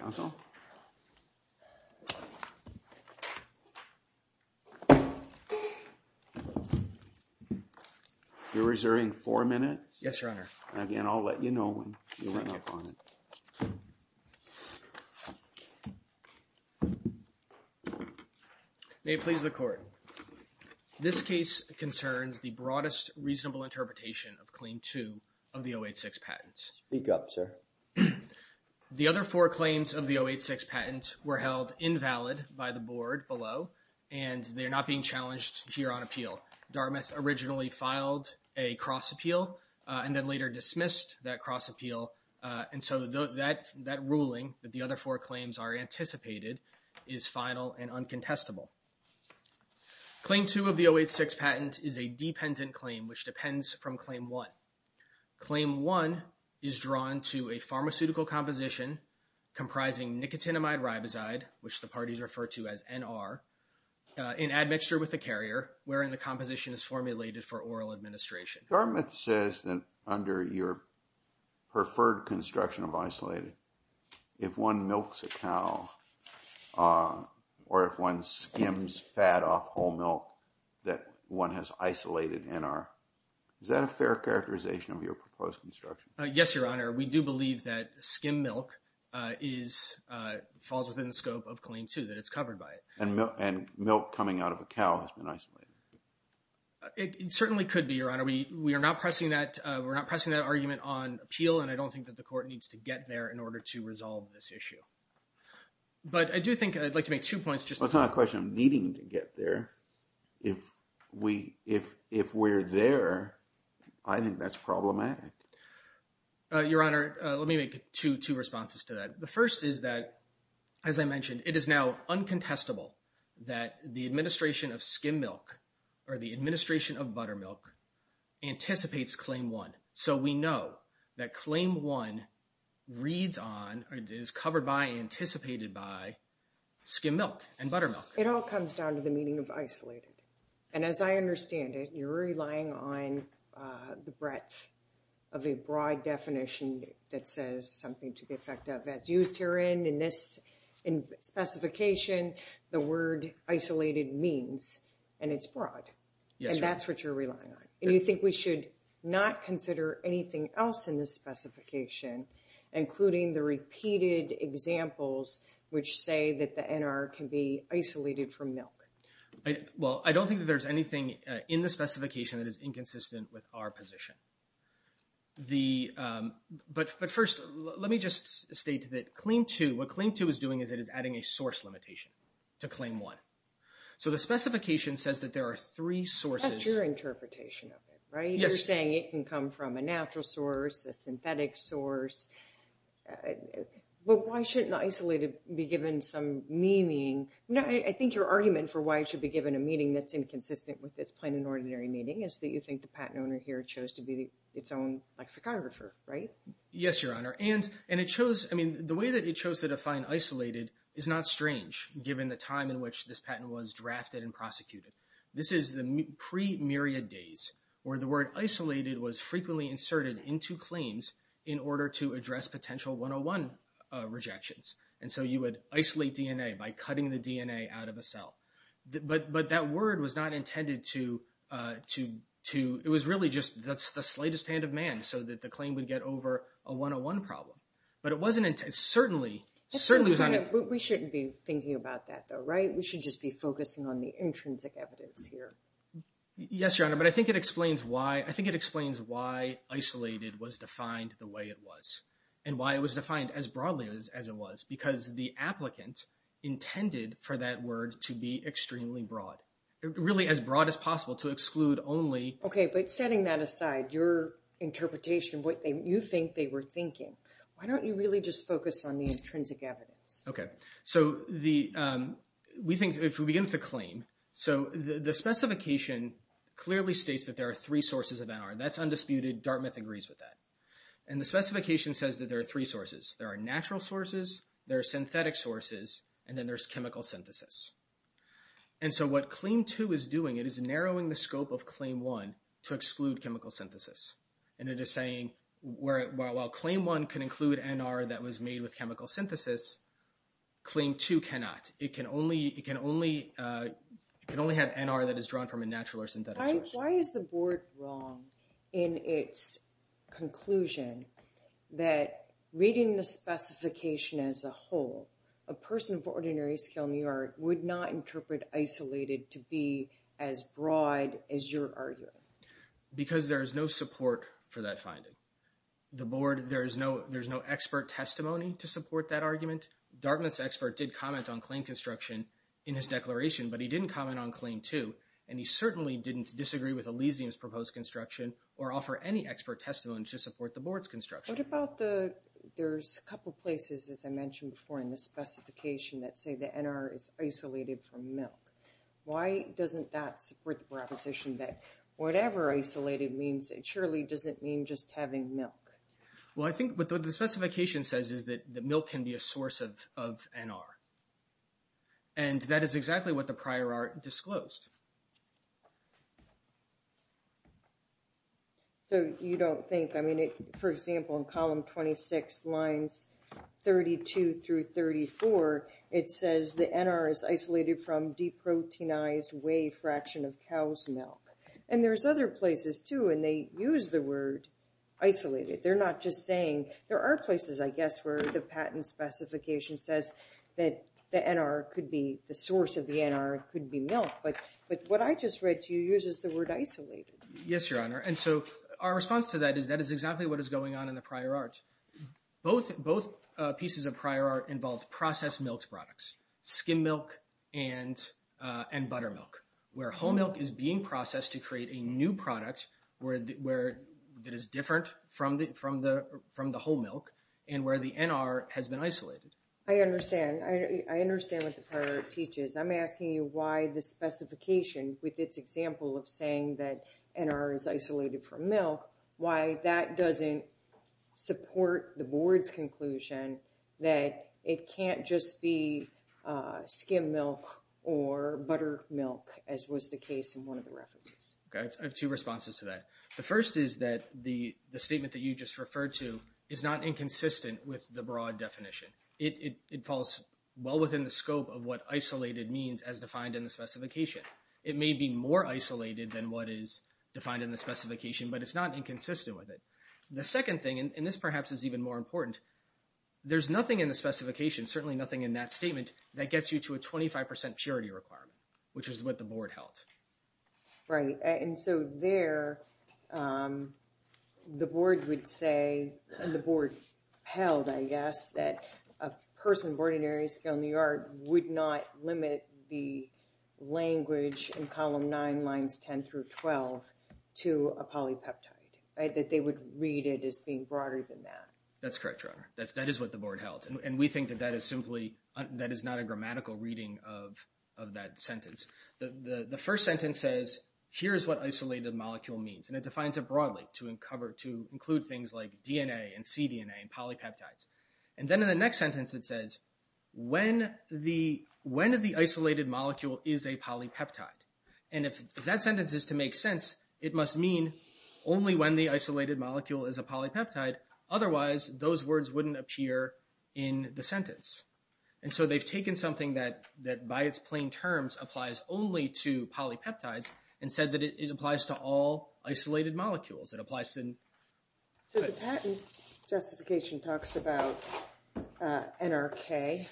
Council, you're reserving four minutes. Yes, Your Honour. Again, I'll let you know when you run up on it. May it please the Court. This case concerns the broadest reasonable interpretation of Claim 2 of the 086 patent. Speak up, sir. The other four claims of the 086 patent were held invalid by the Board below, and they're not being challenged here on appeal. Dartmouth originally filed a cross-appeal and then later dismissed that cross-appeal, and so that ruling that the other four claims are anticipated is final and uncontestable. Claim 2 of the 086 patent is a dependent claim, which depends from Claim 1. Claim 1 is drawn to a pharmaceutical composition comprising nicotinamide riboside, which the parties refer to as NR, in admixture with a carrier, wherein the composition is formulated for oral administration. Dartmouth says that under your preferred construction of isolated, if one milks a cow or if one skims fat off whole milk that one has isolated NR, is that a fair characterization of your proposed construction? Yes, Your Honour. We do believe that skim milk falls within the scope of Claim 2, that it's covered by it. And milk coming out of a cow has been isolated? It certainly could be, Your Honour. We are not pressing that argument on appeal, and I don't think that the Court needs to get there in order to resolve this issue. But I do think I'd like to make two points. Well, it's not a question of needing to get there. If we're there, I think that's problematic. Your Honour, let me make two responses to that. The first is that, as I mentioned, it is now uncontestable that the administration of skim milk or the administration of buttermilk anticipates Claim 1. So we know that Claim 1 reads on, is covered by, anticipated by skim milk and buttermilk. It all comes down to the meaning of isolated. And as I understand it, you're relying on the breadth of a broad definition that says something to the effect of, as used herein in this specification, the word isolated means, and it's broad. And that's what you're relying on. And you think we should not consider anything else in this specification, including the repeated examples which say that the NR can be isolated from milk? Well, I don't think that there's anything in the specification that is inconsistent with our position. But first, let me just state that Claim 2, what Claim 2 is doing is it is adding a source limitation to Claim 1. So the specification says that there are three sources. That's your interpretation of it, right? You're saying it can come from a natural source, a synthetic source. But why shouldn't isolated be given some meaning? I think your argument for why it should be given a meaning that's inconsistent with this plain and ordinary meaning is that you think the patent owner here chose to be its own lexicographer, right? Yes, Your Honor. And it shows, I mean, the way that it chose to define isolated is not strange, given the time in which this patent was drafted and prosecuted. This is the pre-myriad days where the word isolated was frequently inserted into claims in order to address potential 101 rejections. And so you would isolate DNA by cutting the DNA out of a cell. But that word was not intended to, it was really just, that's the slightest hand of man so that the claim would get over a 101 problem. But it wasn't, it certainly, certainly was not intended. We shouldn't be thinking about that though, right? We should just be focusing on the intrinsic evidence here. Yes, Your Honor. But I think it explains why, I think it explains why isolated was defined the way it was. And why it was defined as broadly as it was. Because the applicant intended for that word to be extremely broad. Really as broad as possible to exclude only. Okay, but setting that aside, your interpretation, what you think they were thinking. Why don't you really just focus on the intrinsic evidence? Okay, so the, we think, if we begin with the claim. So the specification clearly states that there are three sources of NR. That's undisputed. Dartmouth agrees with that. And the specification says that there are three sources. There are natural sources, there are synthetic sources, and then there's chemical synthesis. And so what Claim 2 is doing, it is narrowing the scope of Claim 1 to exclude chemical synthesis. And it is saying, while Claim 1 can include NR that was made with chemical synthesis, Claim 2 cannot. It can only have NR that is drawn from a natural or synthetic source. Why is the board wrong in its conclusion that reading the specification as a whole, a person of ordinary skill in the art would not interpret isolated to be as broad as you're arguing? Because there is no support for that finding. The board, there's no expert testimony to support that argument. Dartmouth's expert did comment on claim construction in his declaration, but he didn't comment on Claim 2. And he certainly didn't disagree with Elysium's proposed construction or offer any expert testimony to support the board's construction. What about the, there's a couple places, as I mentioned before, in the specification that say the NR is isolated from milk. Why doesn't that support the proposition that whatever isolated means, it surely doesn't mean just having milk? Well, I think what the specification says is that milk can be a source of NR. And that is exactly what the prior art disclosed. So you don't think, I mean, for example, in column 26, lines 32 through 34, it says the NR is isolated from deproteinized whey fraction of cow's milk. And there's other places, too, and they use the word isolated. They're not just saying, there are places, I guess, where the patent specification says that the NR could be, the source of the NR could be milk. But what I just read to you uses the word isolated. Yes, Your Honor. And so our response to that is that is exactly what is going on in the prior art. Both pieces of prior art involved processed milk products, skim milk and buttermilk, where whole milk is being processed to create a new product that is different from the whole milk and where the NR has been isolated. I understand. I understand what the prior art teaches. I'm asking you why the specification, with its example of saying that NR is isolated from milk, why that doesn't support the board's conclusion that it can't just be skim milk or buttermilk, as was the case in one of the references. I have two responses to that. The first is that the statement that you just referred to is not inconsistent with the broad definition. It falls well within the scope of what isolated means as defined in the specification. It may be more isolated than what is defined in the specification, but it's not inconsistent with it. The second thing, and this perhaps is even more important, there's nothing in the specification, certainly nothing in that statement, that gets you to a 25 percent purity requirement, which is what the board held. Right, and so there, the board would say, and the board held, I guess, that a person born in Erie Scale, New York, would not limit the language in Column 9, Lines 10 through 12 to a polypeptide, that they would read it as being broader than that. That's correct, Your Honor. That is what the board held, and we think that that is simply, that is not a grammatical reading of that sentence. The first sentence says, here is what isolated molecule means, and it defines it broadly to include things like DNA and cDNA and polypeptides. And then in the next sentence it says, when the isolated molecule is a polypeptide. And if that sentence is to make sense, it must mean only when the isolated molecule is a polypeptide, And so they've taken something that, by its plain terms, applies only to polypeptides, and said that it applies to all isolated molecules. It applies to... So the patent justification talks about NRK,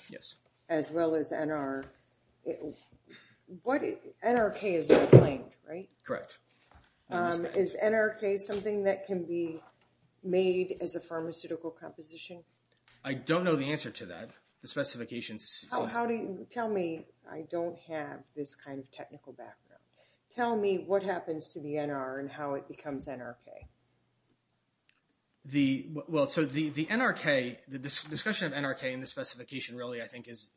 as well as NR... NRK is unclaimed, right? Correct. Is NRK something that can be made as a pharmaceutical composition? I don't know the answer to that. The specifications... How do you... Tell me, I don't have this kind of technical background. Tell me what happens to the NR and how it becomes NRK. The... Well, so the NRK, the discussion of NRK in the specification really, I think, is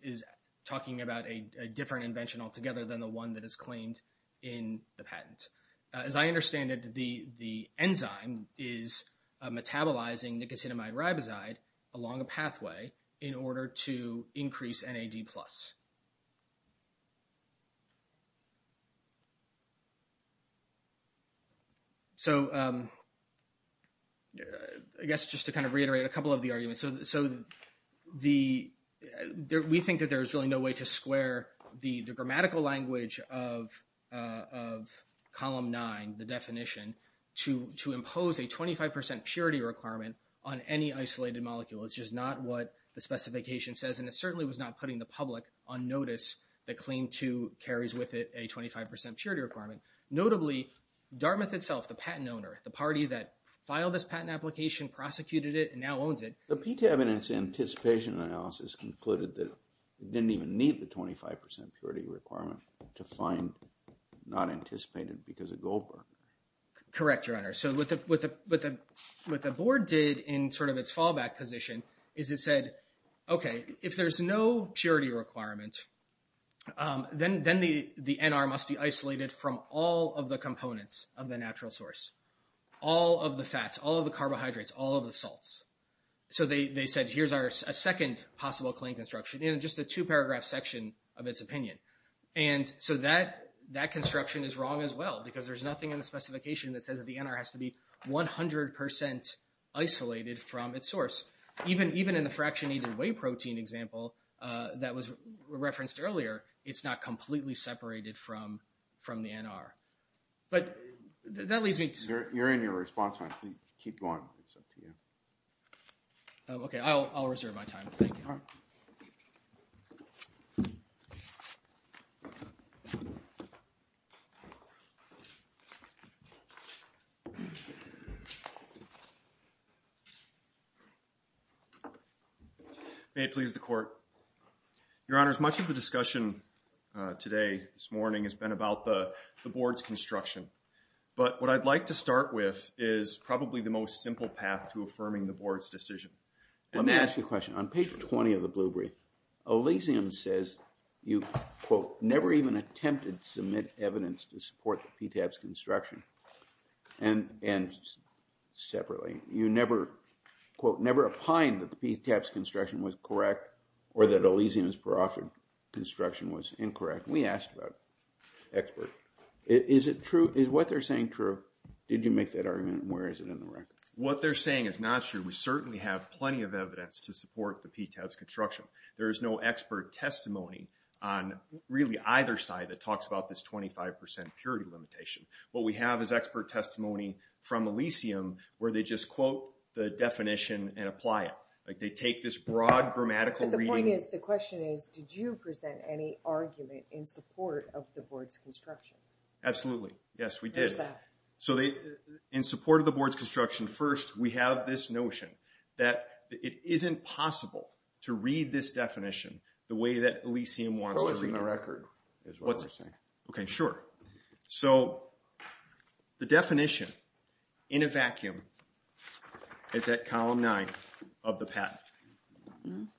talking about a different invention altogether than the one that is claimed in the patent. As I understand it, the enzyme is metabolizing nicotinamide riboside along a pathway in order to increase NAD+. So I guess just to kind of reiterate a couple of the arguments. So we think that there's really no way to square the grammatical language of column nine, the definition, to impose a 25% purity requirement on any isolated molecule. It's just not what the specification says, and it certainly was not putting the public on notice that claim two carries with it a 25% purity requirement. Notably, Dartmouth itself, the patent owner, the party that filed this patent application, prosecuted it, and now owns it... The PTAB in its anticipation analysis concluded that it didn't even need the 25% purity requirement to find not anticipated because of Goldberg. Correct, Your Honor. So what the board did in sort of its fallback position is it said, okay, if there's no purity requirement, then the NR must be isolated from all of the components of the natural source. All of the fats, all of the carbohydrates, all of the salts. So they said, here's our second possible claim construction in just a two-paragraph section of its opinion. And so that construction is wrong as well, because there's nothing in the specification that says that the NR has to be 100% isolated from its source. Even in the fractionated whey protein example that was referenced earlier, it's not completely separated from the NR. But that leads me to... You're in your response time. Keep going. It's up to you. Okay. I'll reserve my time. Thank you. All right. May it please the Court. Your Honors, much of the discussion today, this morning, has been about the board's construction. But what I'd like to start with is probably the most simple path to affirming the board's decision. Let me ask you a question. On page 20 of the blue brief, Elysium says you, quote, never even attempted to submit evidence to support the PTAP's construction. And separately, you never, quote, never opined that the PTAP's construction was correct or that Elysium's peroxide construction was incorrect. We asked about expert. Is it true? Is what they're saying true? Did you make that argument? And where is it in the record? What they're saying is not true. We certainly have plenty of evidence to support the PTAP's construction. There is no expert testimony on, really, either side that talks about this 25% purity limitation. What we have is expert testimony from Elysium where they just quote the definition and apply it. They take this broad grammatical reading. The question is, did you present any argument in support of the board's construction? Absolutely. Yes, we did. Where's that? In support of the board's construction, first, we have this notion that it isn't possible to read this definition the way that Elysium wants to read it. What was in the record is what we're saying. Okay, sure. So, the definition in a vacuum is at column 9 of the patent.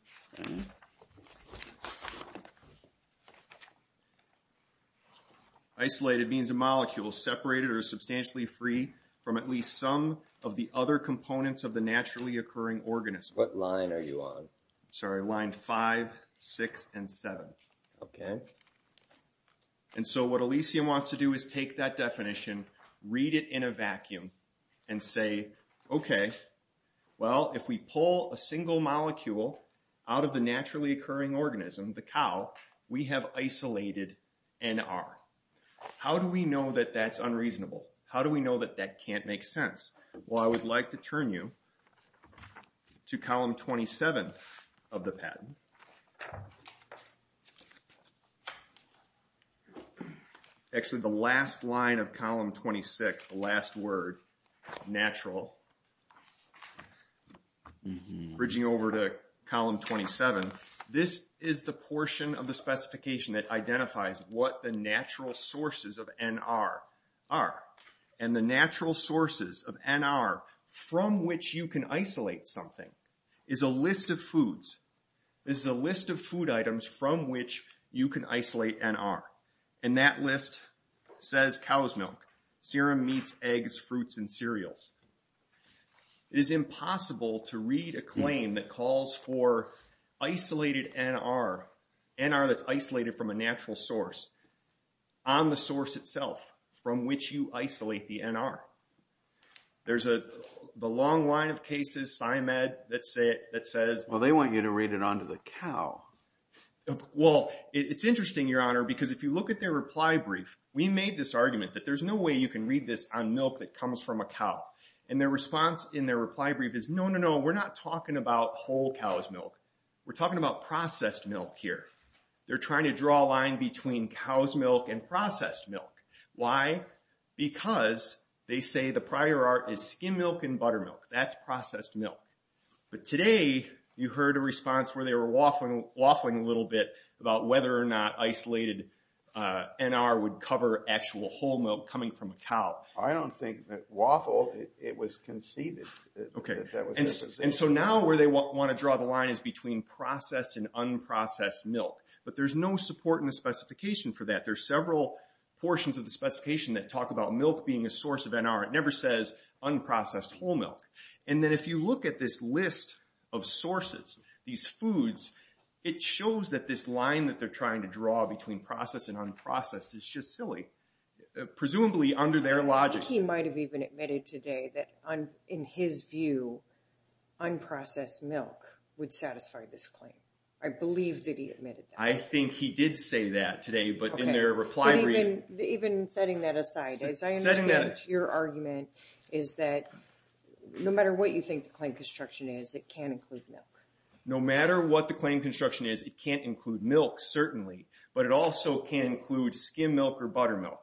Isolated means a molecule separated or substantially free from at least some of the other components of the naturally occurring organism. What line are you on? Sorry, line 5, 6, and 7. Okay. And so, what Elysium wants to do is take that definition, read it in a vacuum, and say, okay, well, if we pull a single molecule out of the naturally occurring organism, the cow, we have isolated NR. How do we know that that's unreasonable? How do we know that that can't make sense? Well, I would like to turn you to column 27 of the patent. Actually, the last line of column 26, the last word, natural, bridging over to column 27, this is the portion of the specification that identifies what the natural sources of NR are. And the natural sources of NR from which you can isolate something is a list of foods. This is a list of food items from which you can isolate NR. And that list says cow's milk, serum meats, eggs, fruits, and cereals. It is impossible to read a claim that calls for isolated NR, NR that's isolated from a natural source, on the source itself from which you isolate the NR. There's the long line of cases, SciMed, that says... Well, they want you to read it onto the cow. Well, it's interesting, Your Honor, because if you look at their reply brief, we made this argument that there's no way you can read this on milk that comes from a cow. And their response in their reply brief is, no, no, no, we're not talking about whole cow's milk. We're talking about processed milk here. They're trying to draw a line between cow's milk and processed milk. Why? Because they say the prior art is skim milk and buttermilk. That's processed milk. But today you heard a response where they were waffling a little bit about whether or not isolated NR would cover actual whole milk coming from a cow. I don't think that waffled. It was conceded. Okay. And so now where they want to draw the line is between processed and unprocessed milk. But there's no support in the specification for that. There's several portions of the specification that talk about milk being a source of NR. It never says unprocessed whole milk. And then if you look at this list of sources, these foods, it shows that this line that they're trying to draw between processed and unprocessed is just silly, presumably under their logic. He might have even admitted today that, in his view, unprocessed milk would satisfy this claim. I believe that he admitted that. I think he did say that today, but in their reply brief. Even setting that aside, as I understand your argument, is that no matter what you think the claim construction is, it can't include milk. No matter what the claim construction is, it can't include milk, certainly. But it also can include skim milk or buttermilk.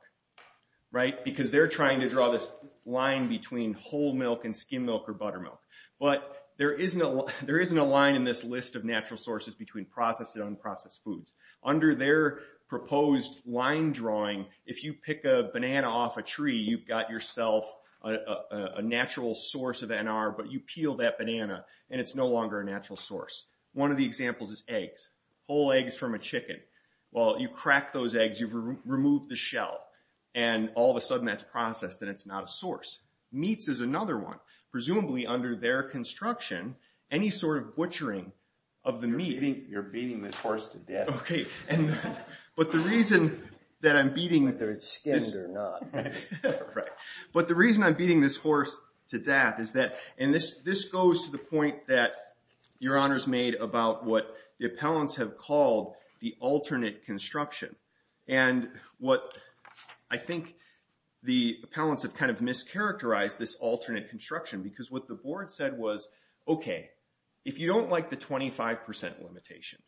Right? Because they're trying to draw this line between whole milk and skim milk or buttermilk. But there isn't a line in this list of natural sources between processed and unprocessed foods. Under their proposed line drawing, if you pick a banana off a tree, you've got yourself a natural source of NR, but you peel that banana and it's no longer a natural source. One of the examples is eggs. Whole eggs from a chicken. Well, you crack those eggs, you've removed the shell, and all of a sudden that's processed and it's not a source. Meats is another one. Presumably under their construction, any sort of butchering of the meat. You're beating this horse to death. Okay. But the reason that I'm beating this… Whether it's skimmed or not. Right. But the reason I'm beating this horse to death is that, and this goes to the point that your honors made about what the appellants have called the alternate construction. And what I think the appellants have kind of mischaracterized this alternate construction because what the board said was, okay, if you don't like the 25% limitation,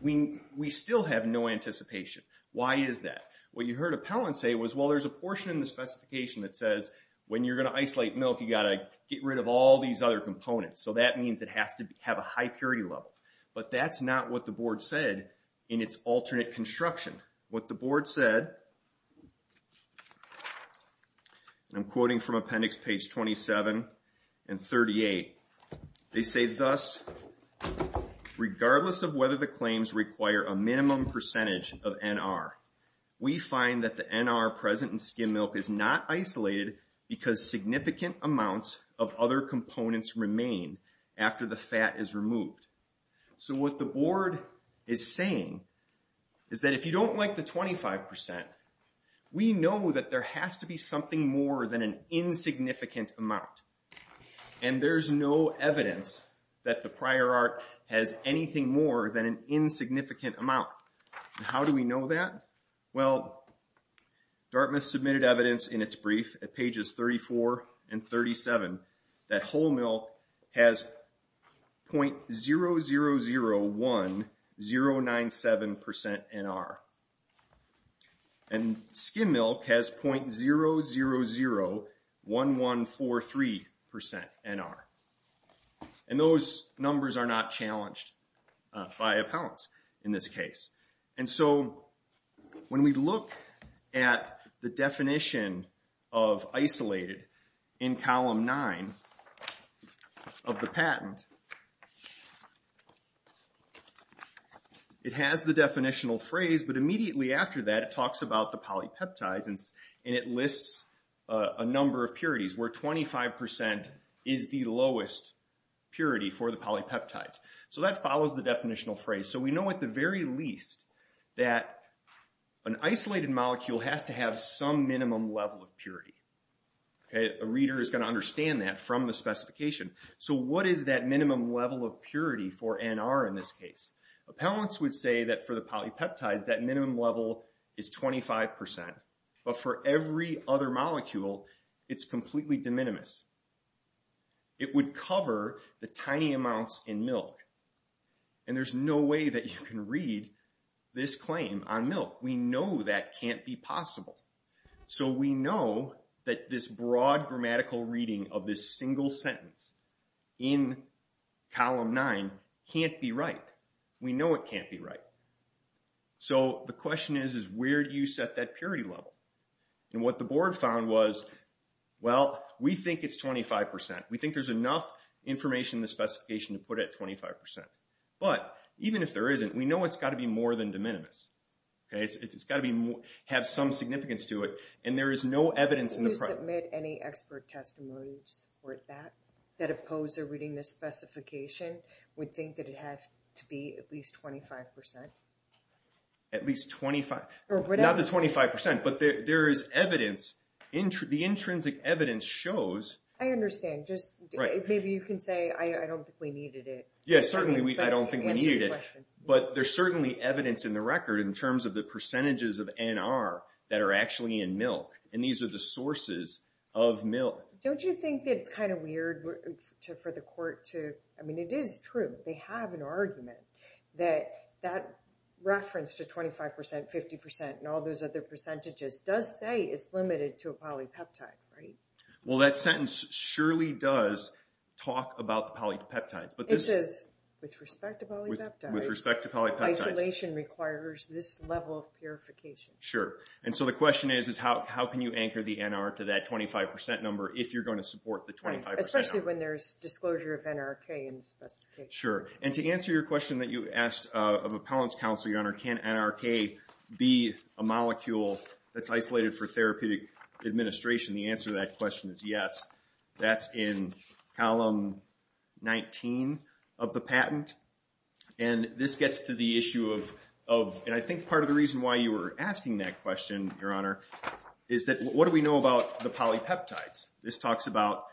we still have no anticipation. Why is that? What you heard appellants say was, well, there's a portion in the specification that says when you're going to isolate milk, you've got to get rid of all these other components. So that means it has to have a high purity level. But that's not what the board said in its alternate construction. What the board said, I'm quoting from appendix page 27 and 38. They say thus, regardless of whether the claims require a minimum percentage of NR, we find that the NR present in skim milk is not isolated because significant amounts of other components remain after the fat is removed. So what the board is saying is that if you don't like the 25%, we know that there has to be something more than an insignificant amount. And there's no evidence that the prior art has anything more than an insignificant amount. How do we know that? Well, Dartmouth submitted evidence in its brief at pages 34 and 37 that whole milk has .0001097% NR. And skim milk has .0001143% NR. And those numbers are not challenged by appellants in this case. And so when we look at the definition of isolated in column nine of the patent, it has the definitional phrase, but immediately after that it talks about the polypeptides. And it lists a number of purities where 25% is the lowest purity for the polypeptides. So that follows the definitional phrase. So we know at the very least that an isolated molecule has to have some minimum level of purity. A reader is going to understand that from the specification. So what is that minimum level of purity for NR in this case? Appellants would say that for the polypeptides that minimum level is 25%. But for every other molecule, it's completely de minimis. It would cover the tiny amounts in milk. And there's no way that you can read this claim on milk. We know that can't be possible. So we know that this broad grammatical reading of this single sentence in column nine can't be right. We know it can't be right. So the question is, is where do you set that purity level? And what the board found was, well, we think it's 25%. We think there's enough information in the specification to put it at 25%. But even if there isn't, we know it's got to be more than de minimis. It's got to have some significance to it. And there is no evidence in the product. Do you submit any expert testimonies for that, that oppose their reading this specification, would think that it has to be at least 25%? At least 25. Not the 25%, but there is evidence. The intrinsic evidence shows. I understand. Maybe you can say, I don't think we needed it. Yes, certainly, I don't think we needed it. But there's certainly evidence in the record in terms of the percentages of NR that are actually in milk. And these are the sources of milk. Don't you think it's kind of weird for the court to, I mean, it is true. They have an argument that that reference to 25%, 50%, and all those other percentages does say it's limited to a polypeptide, right? Well, that sentence surely does talk about the polypeptides. It says, with respect to polypeptides, isolation requires this level of purification. Sure. And so the question is, how can you anchor the NR to that 25% number if you're going to support the 25% number? Especially when there's disclosure of NRK in the specification. Sure. And to answer your question that you asked of appellant's counsel, Your Honor, can NRK be a molecule that's isolated for therapeutic administration? The answer to that question is yes. That's in column 19 of the patent. And this gets to the issue of, and I think part of the reason why you were asking that question, Your Honor, is that what do we know about the polypeptides? This talks about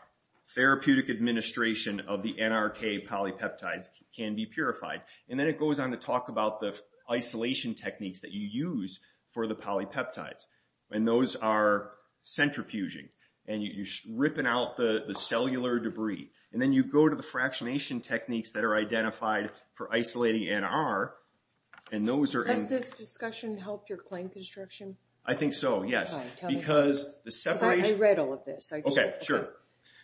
therapeutic administration of the NRK polypeptides can be purified. And then it goes on to talk about the isolation techniques that you use for the polypeptides. And those are centrifuging. And you're ripping out the cellular debris. And then you go to the fractionation techniques that are identified for isolating NR. Does this discussion help your claim construction? I think so, yes. Because the separation. I read all of this. Okay, sure.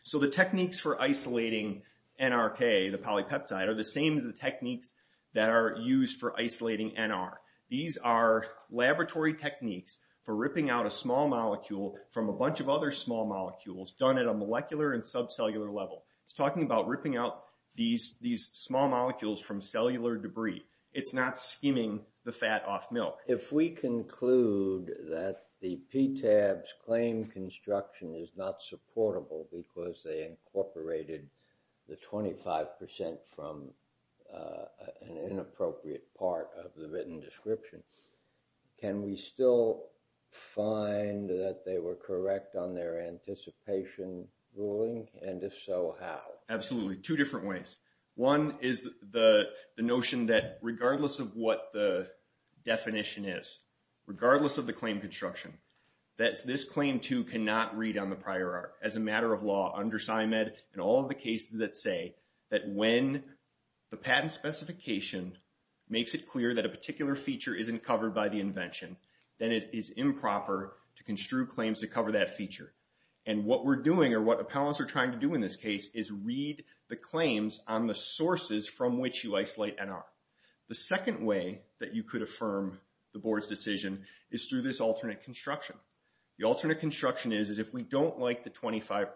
So the techniques for isolating NRK, the polypeptide, are the same as the techniques that are used for isolating NR. These are laboratory techniques for ripping out a small molecule from a bunch of other small molecules done at a molecular and subcellular level. It's talking about ripping out these small molecules from cellular debris. It's not skimming the fat off milk. If we conclude that the PTAB's claim construction is not supportable because they incorporated the 25% from an inappropriate part of the written description, can we still find that they were correct on their anticipation ruling? And if so, how? Absolutely. Two different ways. One is the notion that regardless of what the definition is, regardless of the claim construction, that this claim, too, cannot read on the prior art. As a matter of law, under SCIMED and all the cases that say that when the patent specification makes it clear that a particular feature isn't covered by the invention, then it is improper to construe claims to cover that feature. And what we're doing or what appellants are trying to do in this case is read the claims on the sources from which you isolate NR. The second way that you could affirm the board's decision is through this alternate construction. The alternate construction is if we don't like the 25%.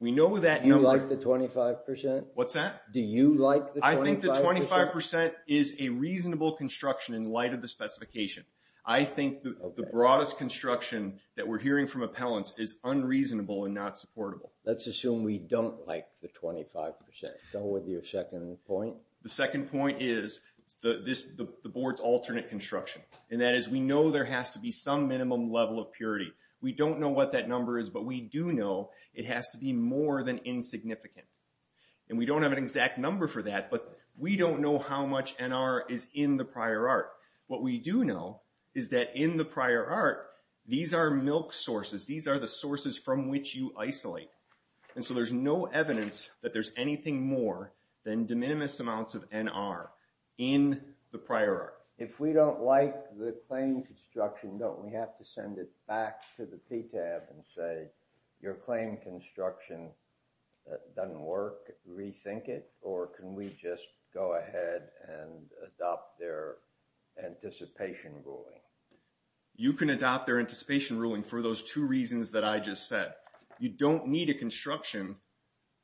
We know that number. You like the 25%? What's that? Do you like the 25%? I think the 25% is a reasonable construction in light of the specification. I think the broadest construction that we're hearing from appellants is unreasonable and not supportable. Let's assume we don't like the 25%. Go with your second point. The second point is the board's alternate construction, and that is we know there has to be some minimum level of purity. We don't know what that number is, but we do know it has to be more than insignificant. And we don't have an exact number for that, but we don't know how much NR is in the prior art. What we do know is that in the prior art, these are milk sources. These are the sources from which you isolate. And so there's no evidence that there's anything more than de minimis amounts of NR in the prior art. If we don't like the claim construction, don't we have to send it back to the PTAB and say, your claim construction doesn't work, rethink it, or can we just go ahead and adopt their anticipation ruling? You can adopt their anticipation ruling for those two reasons that I just said. You don't need a construction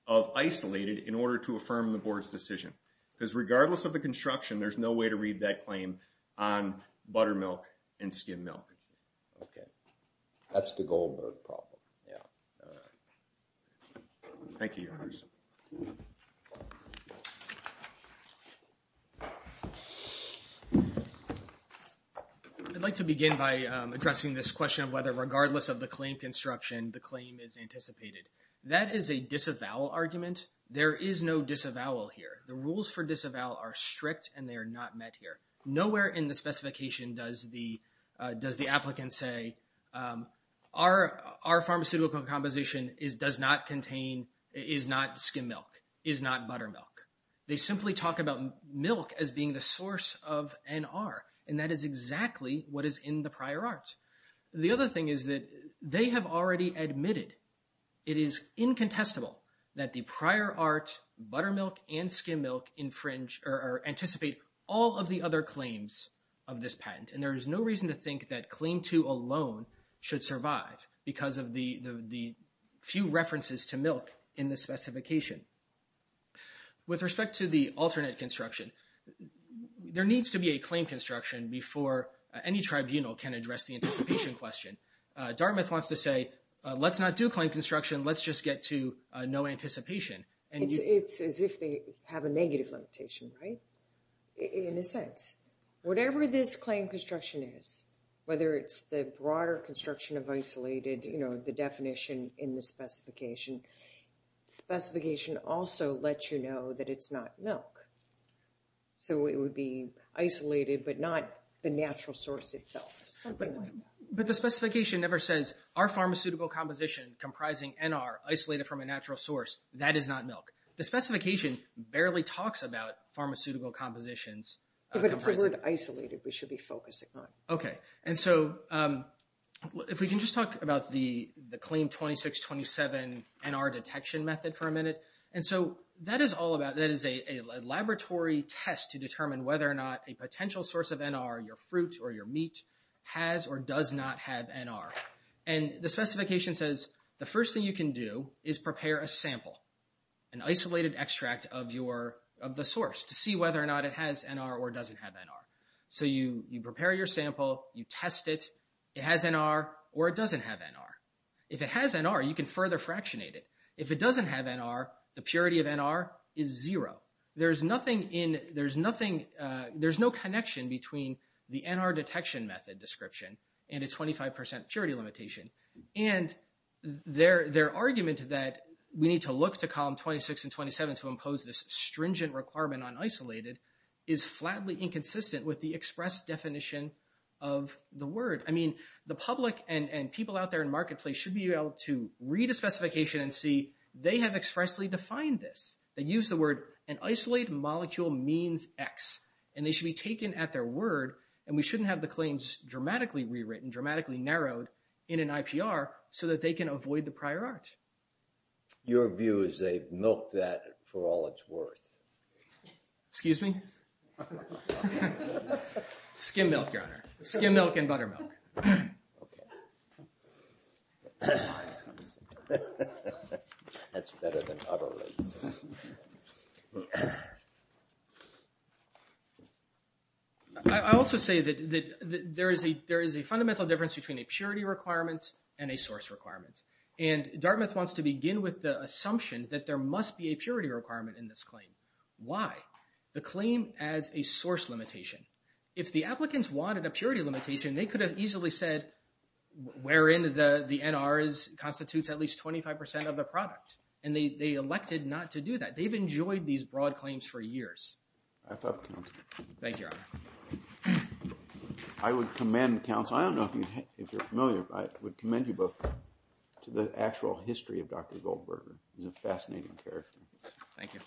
of isolated in order to affirm the board's decision, because regardless of the construction, there's no way to read that claim on buttermilk and skim milk. Okay. That's the Goldberg problem. Yeah. All right. Thank you. Thank you, members. I'd like to begin by addressing this question of whether regardless of the claim construction, the claim is anticipated. That is a disavowal argument. There is no disavowal here. The rules for disavowal are strict, and they are not met here. Nowhere in the specification does the applicant say, our pharmaceutical composition is not skim milk, is not buttermilk. They simply talk about milk as being the source of NR, and that is exactly what is in the prior art. The other thing is that they have already admitted it is incontestable that the prior art, buttermilk, and skim milk anticipate all of the other claims of this patent, and there is no reason to think that claim two alone should survive because of the few references to milk in the specification. With respect to the alternate construction, there needs to be a claim construction before any tribunal can address the anticipation question. Dartmouth wants to say, let's not do claim construction. Let's just get to no anticipation. It's as if they have a negative limitation, right, in a sense. Whatever this claim construction is, whether it's the broader construction of isolated, you know, the definition in the specification, the specification also lets you know that it's not milk. So it would be isolated but not the natural source itself. But the specification never says, our pharmaceutical composition comprising NR, isolated from a natural source, that is not milk. The specification barely talks about pharmaceutical compositions. But if we were to isolate it, we should be focusing on it. Okay. And so if we can just talk about the claim 2627 NR detection method for a minute. And so that is all about, that is a laboratory test to determine whether or not a potential source of NR, your fruit or your meat, has or does not have NR. And the specification says, the first thing you can do is prepare a sample, an isolated extract of the source to see whether or not it has NR or doesn't have NR. So you prepare your sample. You test it. It has NR or it doesn't have NR. If it has NR, you can further fractionate it. If it doesn't have NR, the purity of NR is zero. There's no connection between the NR detection method description and a 25% purity limitation. And their argument that we need to look to column 26 and 27 to impose this stringent requirement on isolated, is flatly inconsistent with the express definition of the word. I mean, the public and people out there in marketplace should be able to read a specification and see they have expressly defined this. They use the word, an isolated molecule means X. And they should be taken at their word. And we shouldn't have the claims dramatically rewritten, dramatically narrowed in an IPR, so that they can avoid the prior art. Your view is they've milked that for all it's worth. Excuse me? Skim milk, your honor. Skim milk and buttermilk. Okay. That's better than buttermilk. I also say that there is a fundamental difference between a purity requirement and a source requirement. And Dartmouth wants to begin with the assumption that there must be a purity requirement in this claim. Why? The claim adds a source limitation. If the applicants wanted a purity limitation, they could have easily said, where in the NR constitutes at least 25% of the product. And they elected not to do that. They've enjoyed these broad claims for years. I thought the same. Thank you, your honor. I would commend counsel, I don't know if you're familiar, but I would commend you both to the actual history of Dr. Goldberger. He's a fascinating character. Thank you.